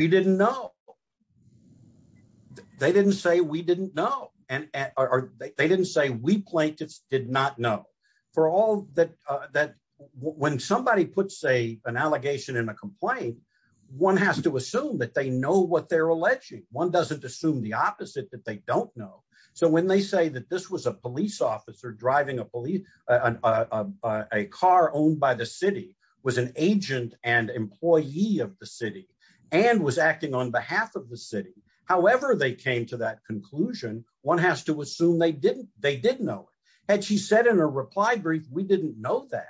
We didn't know. They didn't say we didn't know. And they didn't say we plaintiffs did not know. For all that that when somebody puts a an allegation in a complaint, one has to assume that they know what they're alleging. One doesn't assume the opposite, that they don't know. So when they say that this was a police officer driving a police, a car owned by the city, was an agent and employee of the city, and was acting on behalf of the city. However, they came to that conclusion, one has to assume they didn't, they didn't know. And she said in a reply brief, we didn't know that.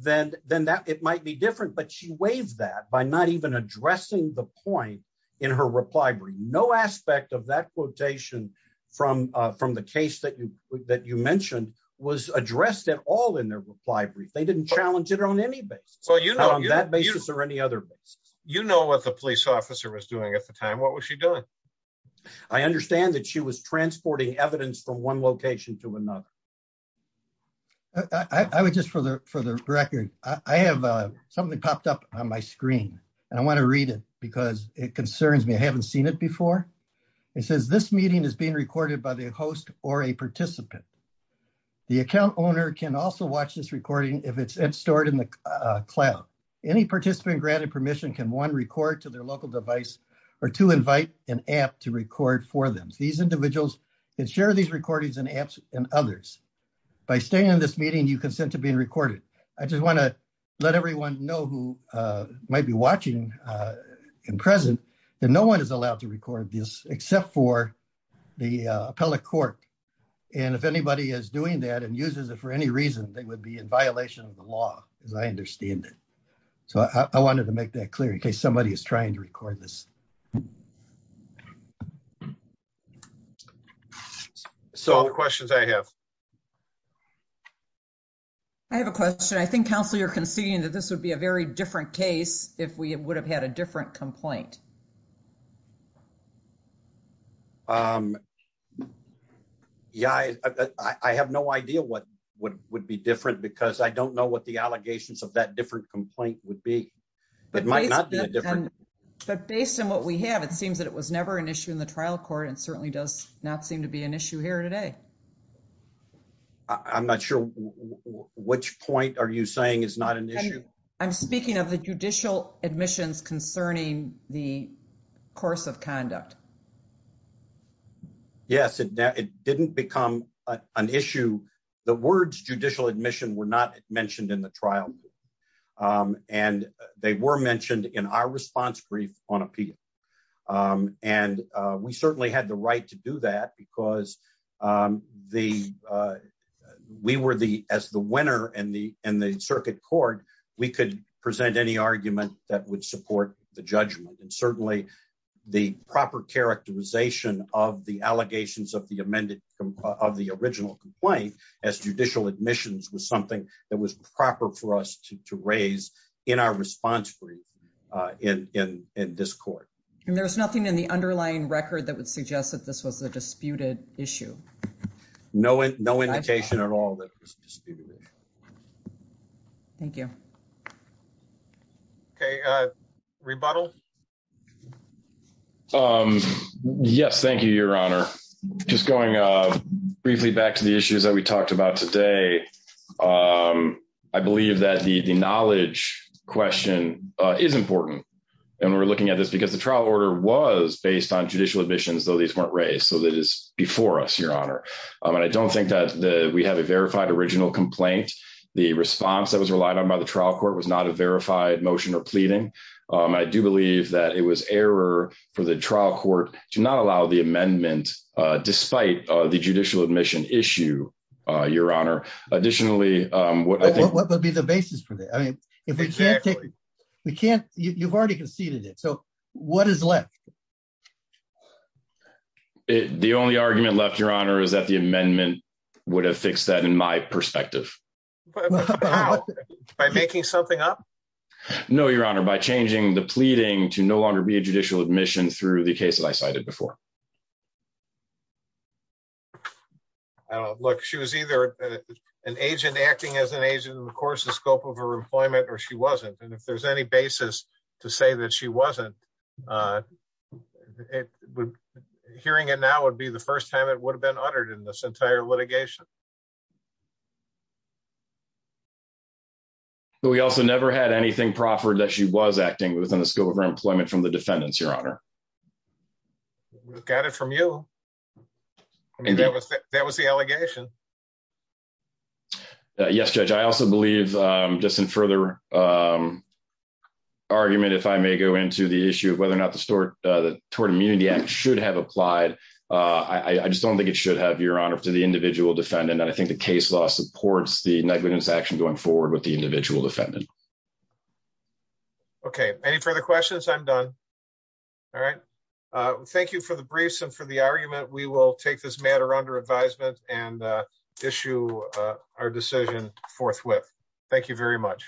Then that it might be different, but she waived that by not even addressing the point in her reply brief. No aspect of that quotation from the case that you mentioned was addressed at all in their reply brief. They didn't challenge it on any basis. On that basis or any other basis. You know what the police officer was doing at the time. What was she doing? I understand that she was transporting evidence from one location to another. I would just for the, for the record, I have something popped up on my screen, and I want to read it because it concerns me I haven't seen it before. It says this meeting is being recorded by the host or a participant. The account owner can also watch this recording if it's stored in the cloud. Any participant granted permission can one record to their local device, or to invite an app to record for them. These individuals can share these recordings and apps and others by staying in this meeting you consent to being recorded. I just want to let everyone know who might be watching in present that no one is allowed to record this, except for the appellate court. And if anybody is doing that and uses it for any reason, they would be in violation of the law, as I understand it. So, I wanted to make that clear in case somebody is trying to record this. So, the questions I have. I have a question. I think counsel, you're conceding that this would be a very different case. If we would have had a different complaint. Yeah, I have no idea what would be different because I don't know what the allegations of that different complaint would be. But based on what we have, it seems that it was never an issue in the trial court and certainly does not seem to be an issue here today. I'm not sure which point are you saying is not an issue. I'm speaking of the judicial admissions concerning the course of conduct. Yes, it didn't become an issue. The words judicial admission were not mentioned in the trial. And they were mentioned in our response brief on appeal. And we certainly had the right to do that because we were the winner in the circuit court. We could present any argument that would support the judgment and certainly the proper characterization of the allegations of the original complaint as judicial admissions was something that was proper for us to raise in our response brief in this court. And there's nothing in the underlying record that would suggest that this was a disputed issue. No, no indication at all. Thank you. Okay, rebuttal. Yes, thank you. Your honor. Just going briefly back to the issues that we talked about today. I believe that the the knowledge question is important. And we're looking at this because the trial order was based on judicial admissions though these weren't raised so that is before us, Your Honor. And I don't think that the we have a verified original complaint. The response that was relied on by the trial court was not a verified motion or pleading. I do believe that it was error for the trial court to not allow the amendment. Despite the judicial admission issue, Your Honor. Additionally, what would be the basis for that. I mean, if we can't, we can't, you've already conceded it so what is left. The only argument left Your Honor is that the amendment would have fixed that in my perspective. By making something up. No, Your Honor by changing the pleading to no longer be a judicial admission through the case that I cited before. Look, she was either an agent acting as an agent and of course the scope of her employment or she wasn't and if there's any basis to say that she wasn't. Hearing it now would be the first time it would have been uttered in this entire litigation. We also never had anything proffered that she was acting within the scope of her employment from the defendants, Your Honor. Got it from you. And that was that was the allegation. Yes, Judge I also believe, just in further argument if I may go into the issue of whether or not the store toward immunity and should have applied. I just don't think it should have your honor to the individual defendant and I think the case law supports the negligence action going forward with the individual defendant. Okay. Any further questions I'm done. All right. Thank you for the briefs and for the argument, we will take this matter under advisement and issue our decision forthwith. Thank you very much.